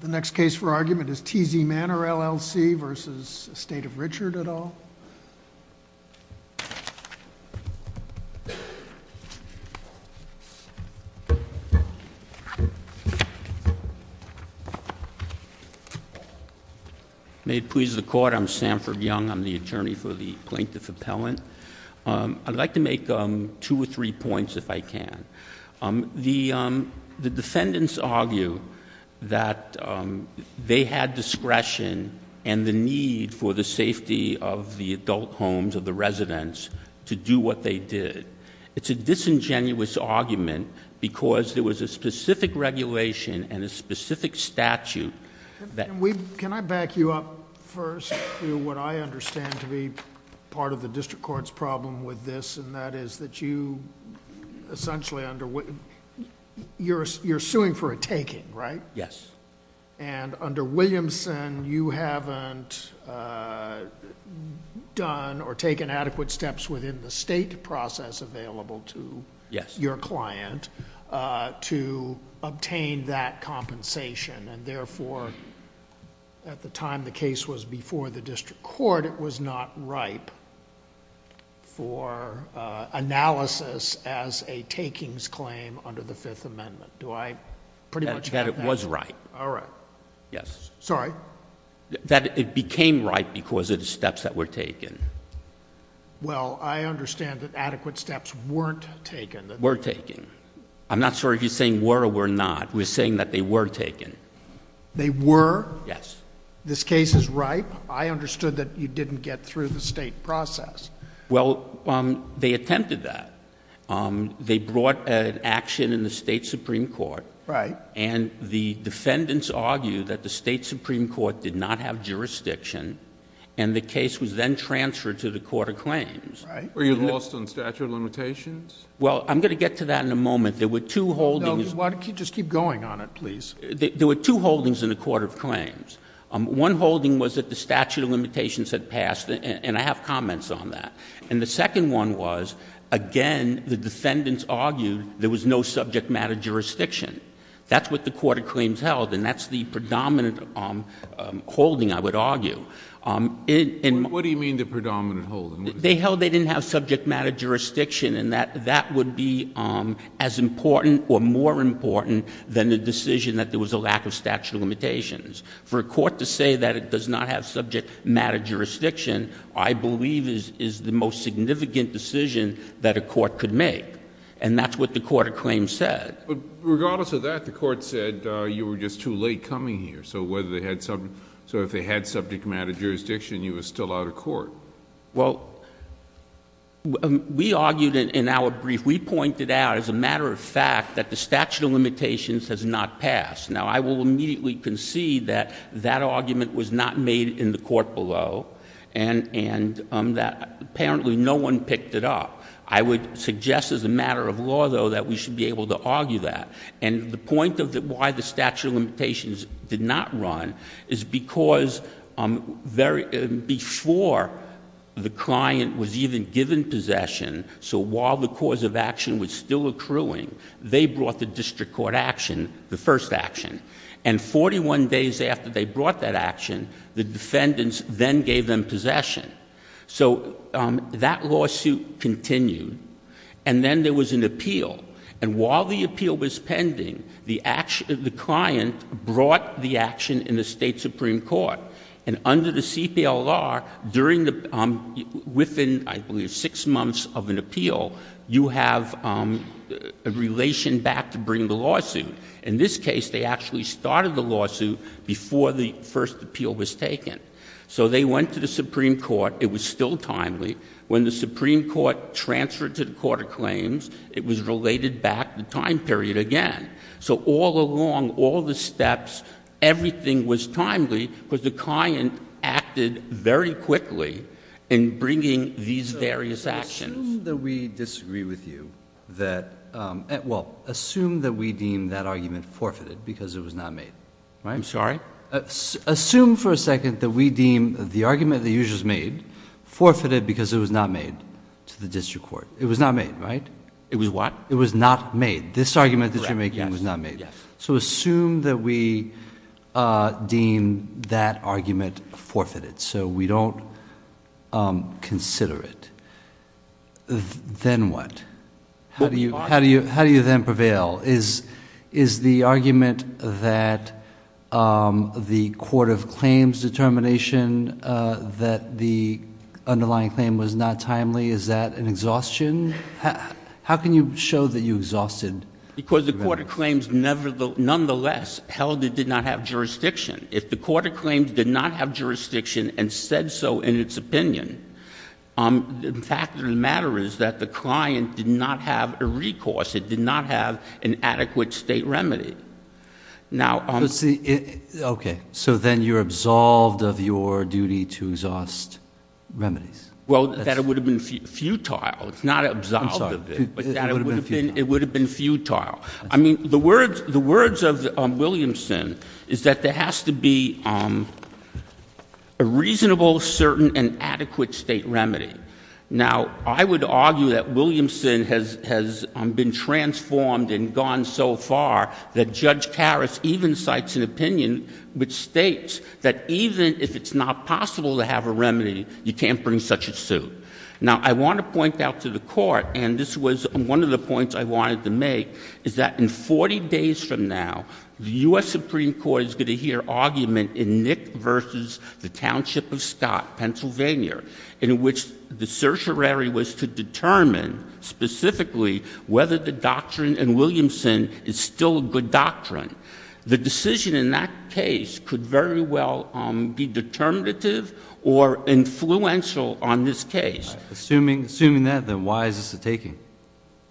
The next case for argument is TZ Manor, LLC v. Estate of Richard et al. May it please the Court, I'm Samford Young, I'm the attorney for the Plaintiff Appellant. I'd like to make two or three points if I can. The defendants argue that they had discretion and the need for the safety of the adult homes, of the residents, to do what they did. It's a disingenuous argument because there was a specific regulation and a specific statute. Can I back you up first to what I understand to be part of the district court's problem with this, and that is that you essentially under... You're suing for a taking, right? Yes. Under Williamson, you haven't done or taken adequate steps within the state process available to your client to obtain that compensation. And therefore, at the time the case was before the district court, it was not ripe for analysis as a takings claim under the Fifth Amendment. Do I pretty much have that? That it was ripe. All right. Yes. Sorry? That it became ripe because of the steps that were taken. Well, I understand that adequate steps weren't taken. Were taken. I'm not sure if you're saying were or were not. We're saying that they were taken. They were? Yes. This case is ripe? I understood that you didn't get through the state process. Well, they attempted that. They brought an action in the state supreme court. Right. And the defendants argue that the state supreme court did not have jurisdiction, and the case was then transferred to the court of claims. Right. Were you lost on statute of limitations? Well, I'm going to get to that in a moment. There were two holdings. Just keep going on it, please. There were two holdings in the court of claims. One holding was that the statute of limitations had passed, and I have comments on that. And the second one was, again, the defendants argued there was no subject matter jurisdiction. That's what the court of claims held, and that's the predominant holding, I would argue. What do you mean the predominant holding? They held they didn't have subject matter jurisdiction, and that would be as important or more important than the decision that there was a lack of statute of limitations. For a court to say that it does not have subject matter jurisdiction, I believe, is the most significant decision that a court could make. And that's what the court of claims said. But regardless of that, the court said you were just too late coming here. So if they had subject matter jurisdiction, you were still out of court. Well, we argued in our brief, we pointed out as a matter of fact that the statute of limitations has not passed. Now, I will immediately concede that that argument was not made in the court below, and that apparently no one picked it up. I would suggest as a matter of law, though, that we should be able to argue that. And the point of why the statute of limitations did not run is because before the client was even given possession, so while the cause of action was still accruing, they brought the district court action, the first action. And 41 days after they brought that action, the defendants then gave them possession. So that lawsuit continued, and then there was an appeal. And while the appeal was pending, the client brought the action in the state supreme court. And under the CPLR, within, I believe, six months of an appeal, you have a relation back to bring the lawsuit. In this case, they actually started the lawsuit before the first appeal was taken. So they went to the supreme court. It was still timely. When the supreme court transferred to the court of claims, it was related back the time period again. So all along, all the steps, everything was timely because the client acted very quickly in bringing these various actions. Assume that we disagree with you that — well, assume that we deem that argument forfeited because it was not made. I'm sorry? Assume for a second that we deem the argument that you just made forfeited because it was not made to the district court. It was not made, right? It was what? It was not made. This argument that you're making was not made. So assume that we deem that argument forfeited so we don't consider it. Then what? How do you then prevail? Is the argument that the court of claims determination that the underlying claim was not timely, is that an exhaustion? How can you show that you exhausted? Because the court of claims nonetheless held it did not have jurisdiction. If the court of claims did not have jurisdiction and said so in its opinion, the fact of the matter is that the client did not have a recourse. It did not have an adequate state remedy. So then you're absolved of your duty to exhaust remedies. Well, that would have been futile. It's not absolved of it. It would have been futile. I mean, the words of Williamson is that there has to be a reasonable, certain, and adequate state remedy. Now, I would argue that Williamson has been transformed and gone so far that Judge Karas even cites an opinion which states that even if it's not possible to have a remedy, you can't bring such a suit. Now, I want to point out to the court, and this was one of the points I wanted to make, is that in 40 days from now, the U.S. Supreme Court is going to hear argument in Nick versus the Township of Scott, Pennsylvania, in which the certiorari was to determine specifically whether the doctrine in Williamson is still a good doctrine. The decision in that case could very well be determinative or influential on this case. Assuming that, then why is this a taking?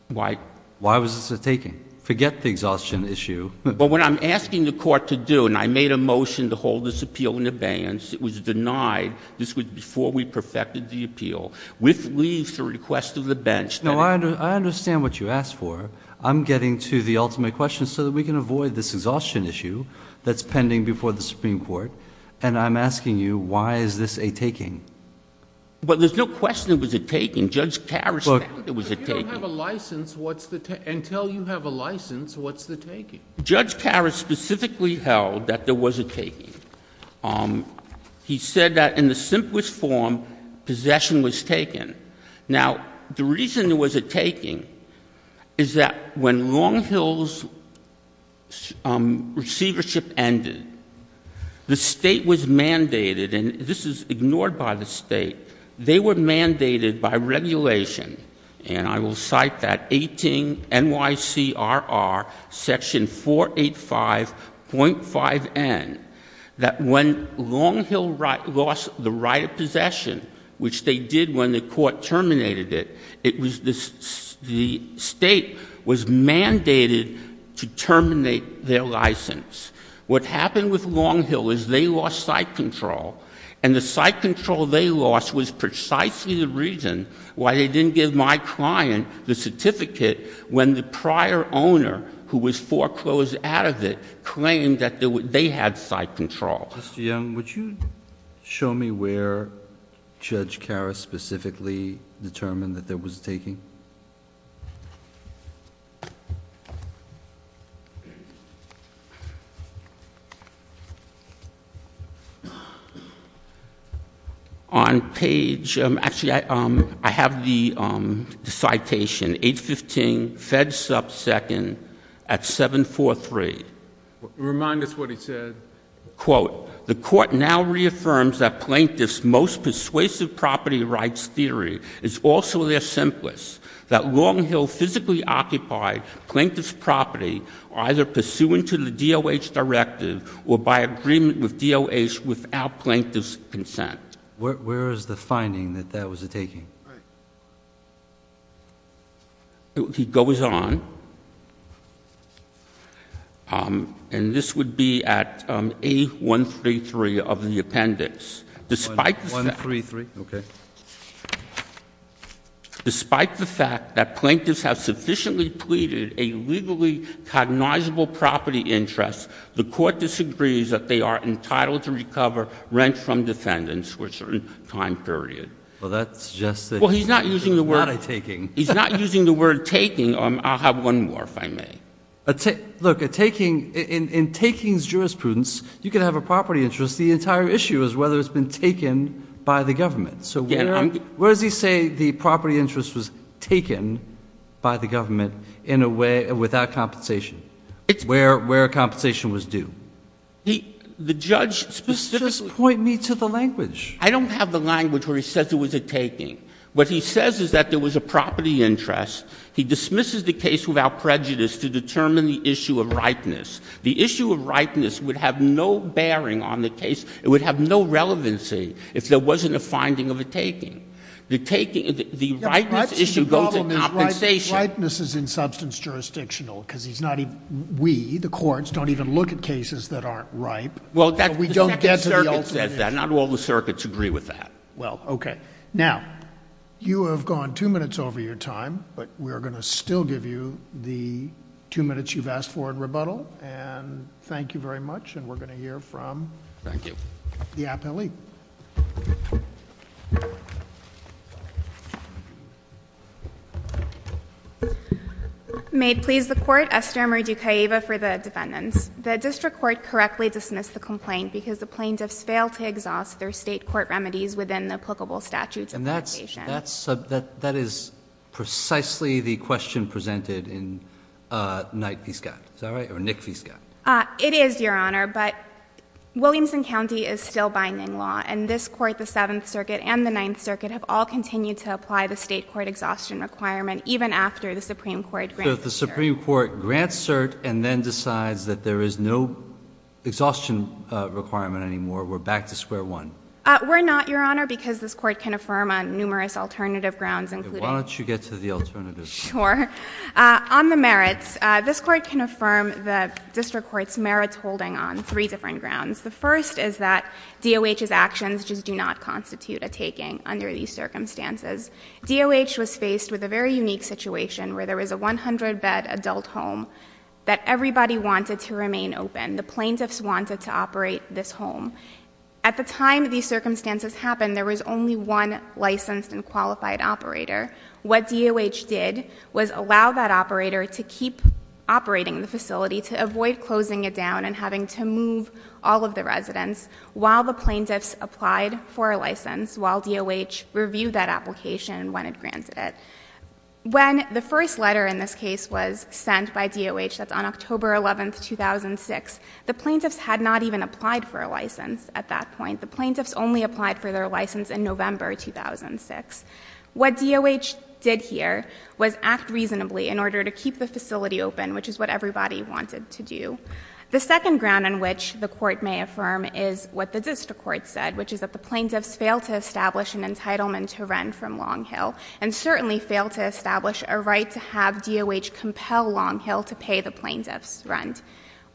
Why? Why was this a taking? Forget the exhaustion issue. But what I'm asking the court to do, and I made a motion to hold this appeal in abeyance. It was denied. This was before we perfected the appeal, with leave to request of the bench. Now, I understand what you asked for. I'm getting to the ultimate question so that we can avoid this exhaustion issue that's pending before the Supreme Court. And I'm asking you, why is this a taking? Well, there's no question it was a taking. Judge Karras said it was a taking. But if you don't have a license, what's the taking? Until you have a license, what's the taking? Judge Karras specifically held that there was a taking. He said that in the simplest form, possession was taken. Now, the reason it was a taking is that when Long Hill's receivership ended, the State was mandated, and this is ignored by the State, they were mandated by regulation, and I will cite that, 18 NYCRR section 485.5N, that when Long Hill lost the right of possession, which they did when the court terminated it, it was the State was mandated to terminate their license. What happened with Long Hill is they lost site control, and the site control they lost was precisely the reason why they didn't give my client the certificate when the prior owner, who was foreclosed out of it, claimed that they had site control. Mr. Young, would you show me where Judge Karras specifically determined that there was a taking? On page — actually, I have the citation, 815, fed subsecond at 743. Remind us what he said. Where is the finding that that was a taking? He goes on, and this would be at A133 of the appendix. Despite the fact that plaintiffs have sufficiently pleaded a legally cognizable property interest, the court disagrees that they are entitled to recover rent from defendants for a certain time period. Well, he's not using the word taking. He's not using the word taking. I'll have one more, if I may. Look, in takings jurisprudence, you can have a property interest. The entire issue is whether it's been taken by the government. So where does he say the property interest was taken by the government in a way without compensation, where compensation was due? The judge specifically — Just point me to the language. I don't have the language where he says it was a taking. What he says is that there was a property interest. He dismisses the case without prejudice to determine the issue of ripeness. The issue of ripeness would have no bearing on the case. It would have no relevancy if there wasn't a finding of a taking. The taking — the ripeness issue goes to compensation. The problem is ripeness is in substance jurisdictional, because he's not even — we, the courts, don't even look at cases that aren't ripe. Well, we don't get to the ultimate issue. Not all the circuits agree with that. Well, okay. Now, you have gone two minutes over your time, but we are going to still give you the two minutes you've asked for in rebuttal. And thank you very much. And we're going to hear from the appellee. May it please the Court. Esther Marie Ducaiva for the defendants. The district court correctly dismissed the complaint because the plaintiffs failed to exhaust their State court remedies within the applicable statutes of obligation. And that's — that is precisely the question presented in Knight v. Scott. Is that right? Or Nick v. Scott. It is, Your Honor. But Williamson County is still binding law. And this Court, the Seventh Circuit and the Ninth Circuit, have all continued to apply the State court exhaustion requirement even after the Supreme Court grants the cert. And then decides that there is no exhaustion requirement anymore. We're back to square one. We're not, Your Honor, because this Court can affirm on numerous alternative grounds, including — Why don't you get to the alternatives? Sure. On the merits, this Court can affirm the district court's merits holding on three different grounds. The first is that DOH's actions just do not constitute a taking under these circumstances. DOH was faced with a very unique situation where there was a 100-bed adult home that everybody wanted to remain open. The plaintiffs wanted to operate this home. At the time these circumstances happened, there was only one licensed and qualified operator. What DOH did was allow that operator to keep operating the facility to avoid closing it down and having to move all of the residents while the plaintiffs applied for a license, while DOH reviewed that application when it granted it. When the first letter in this case was sent by DOH, that's on October 11, 2006, the plaintiffs had not even applied for a license at that point. The plaintiffs only applied for their license in November 2006. What DOH did here was act reasonably in order to keep the facility open, which is what everybody wanted to do. The second ground on which the Court may affirm is what the district court said, which is that the plaintiffs failed to establish an entitlement to rent from Long Hill, and certainly failed to establish a right to have DOH compel Long Hill to pay the plaintiffs' rent.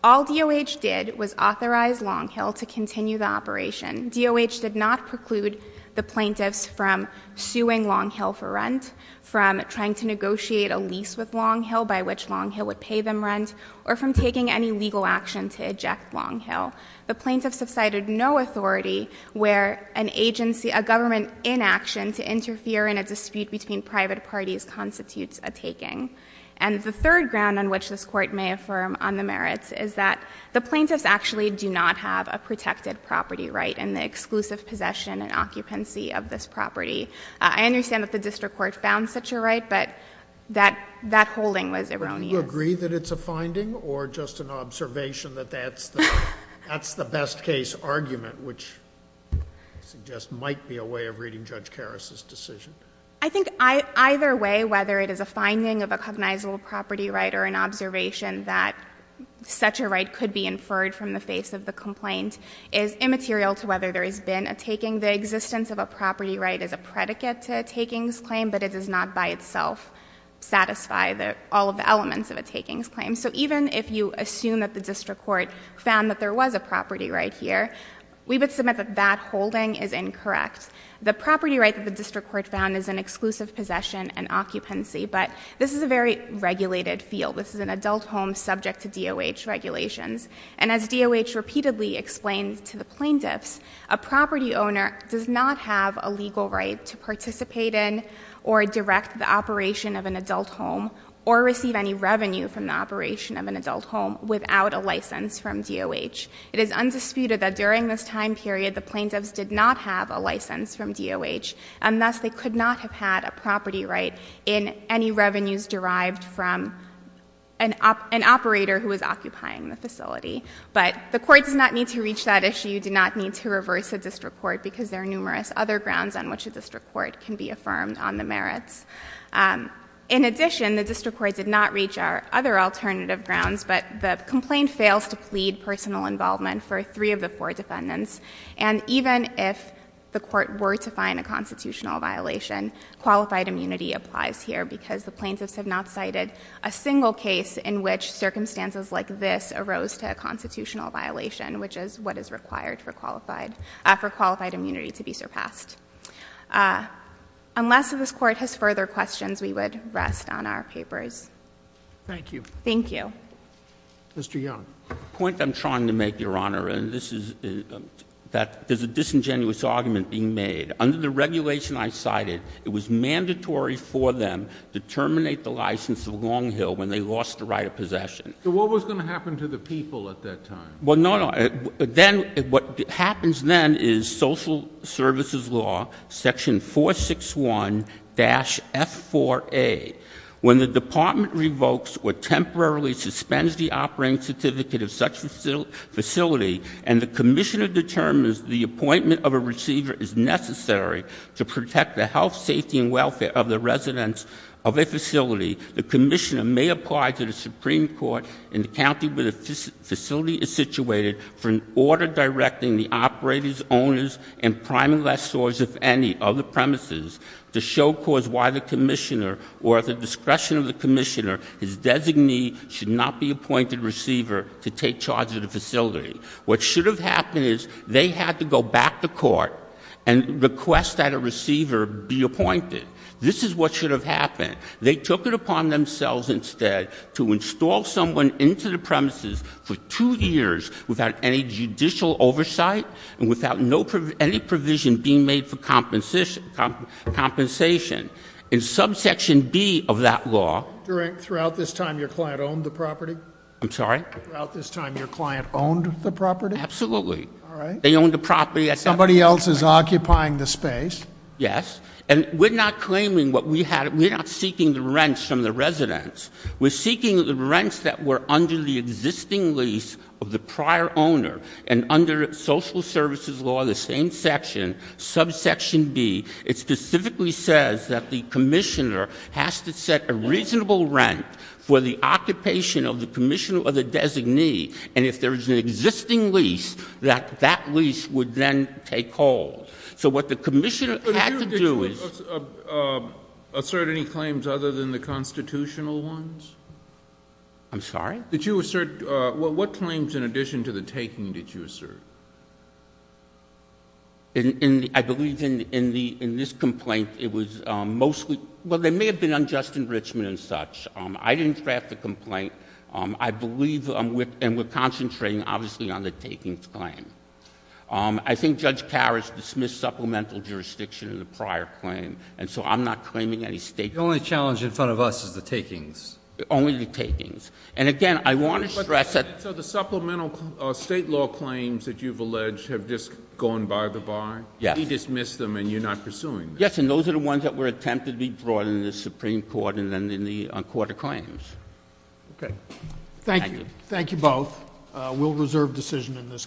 All DOH did was authorize Long Hill to continue the operation. DOH did not preclude the plaintiffs from suing Long Hill for rent, from trying to negotiate a lease with Long Hill by which Long Hill would pay them rent, or from taking any legal action to eject Long Hill. The plaintiffs have cited no authority where an agency, a government inaction to interfere in a dispute between private parties constitutes a taking. And the third ground on which this Court may affirm on the merits is that the plaintiffs actually do not have a protected property right in the exclusive possession and occupancy of this property. I understand that the district court found such a right, but that holding was erroneous. Sotomayor, do you agree that it's a finding, or just an observation that that's the best case argument, which I suggest might be a way of reading Judge Karras' decision? I think either way, whether it is a finding of a cognizable property right or an observation that such a right could be inferred from the face of the complaint is immaterial to whether there has been a taking. The existence of a property right is a predicate to a takings claim, but it does not by itself satisfy all of the elements of a takings claim. So even if you assume that the district court found that there was a property right here, we would submit that that holding is incorrect. The property right that the district court found is an exclusive possession and occupancy, but this is a very regulated field. This is an adult home subject to DOH regulations. And as DOH repeatedly explained to the plaintiffs, a property owner does not have a legal right to participate in or direct the operation of an adult home or receive any revenue from the operation of an adult home without a license from DOH. It is undisputed that during this time period the plaintiffs did not have a license from DOH, and thus they could not have had a property right in any revenues derived from an operator who was occupying the facility. But the court does not need to reach that issue. You do not need to reverse a district court because there are numerous other grounds on which a district court can be affirmed on the merits. In addition, the district court did not reach our other alternative grounds, but the complaint fails to plead personal involvement for three of the four defendants. And even if the court were to find a constitutional violation, qualified immunity applies here because the plaintiffs have not cited a single case in which circumstances like this arose to a constitutional violation, which is what is required for qualified immunity to be surpassed. Unless this Court has further questions, we would rest on our papers. Thank you. Thank you. Mr. Young. The point I'm trying to make, Your Honor, and this is that there's a disingenuous argument being made. Under the regulation I cited, it was mandatory for them to terminate the license of Long Hill when they lost the right of possession. So what was going to happen to the people at that time? Well, no, no. Then what happens then is social services law, section 461-F4A. When the department revokes or temporarily suspends the operating certificate of such facility, and the commissioner determines the appointment of a receiver is necessary to protect the health, safety, and welfare of the residents of a facility, the commissioner may apply to the Supreme Court in the county where the facility is situated for an order directing the operators, owners, and prime lessors, if any, of the premises to show cause why the commissioner, or at the discretion of the commissioner, his designee should not be appointed receiver to take charge of the facility. What should have happened is they had to go back to court and request that a receiver be appointed. This is what should have happened. They took it upon themselves instead to install someone into the premises for two years without any judicial oversight and without any provision being made for compensation. In subsection B of that law — Throughout this time your client owned the property? I'm sorry? Throughout this time your client owned the property? Absolutely. All right. They owned the property. Somebody else is occupying the space. Yes. And we're not claiming what we had. We're not seeking the rents from the residents. We're seeking the rents that were under the existing lease of the prior owner. And under social services law, the same section, subsection B, it specifically says that the commissioner has to set a reasonable rent for the occupation of the commissioner or the designee, and if there is an existing lease, that that lease would then take hold. So what the commissioner had to do is — But did you assert any claims other than the constitutional ones? I'm sorry? Did you assert — what claims in addition to the taking did you assert? I believe in this complaint it was mostly — well, there may have been unjust enrichment and such. I didn't draft the complaint. I believe — and we're concentrating, obviously, on the takings claim. I think Judge Karras dismissed supplemental jurisdiction in the prior claim, and so I'm not claiming any state — The only challenge in front of us is the takings. Only the takings. And again, I want to stress that — So the supplemental state law claims that you've alleged have just gone by the bar? Yes. He dismissed them and you're not pursuing them? Yes, and those are the ones that were attempted to be brought in the Supreme Court and then in the court of claims. Okay. Thank you. Thank you. Thank you both. We'll reserve decision in this case.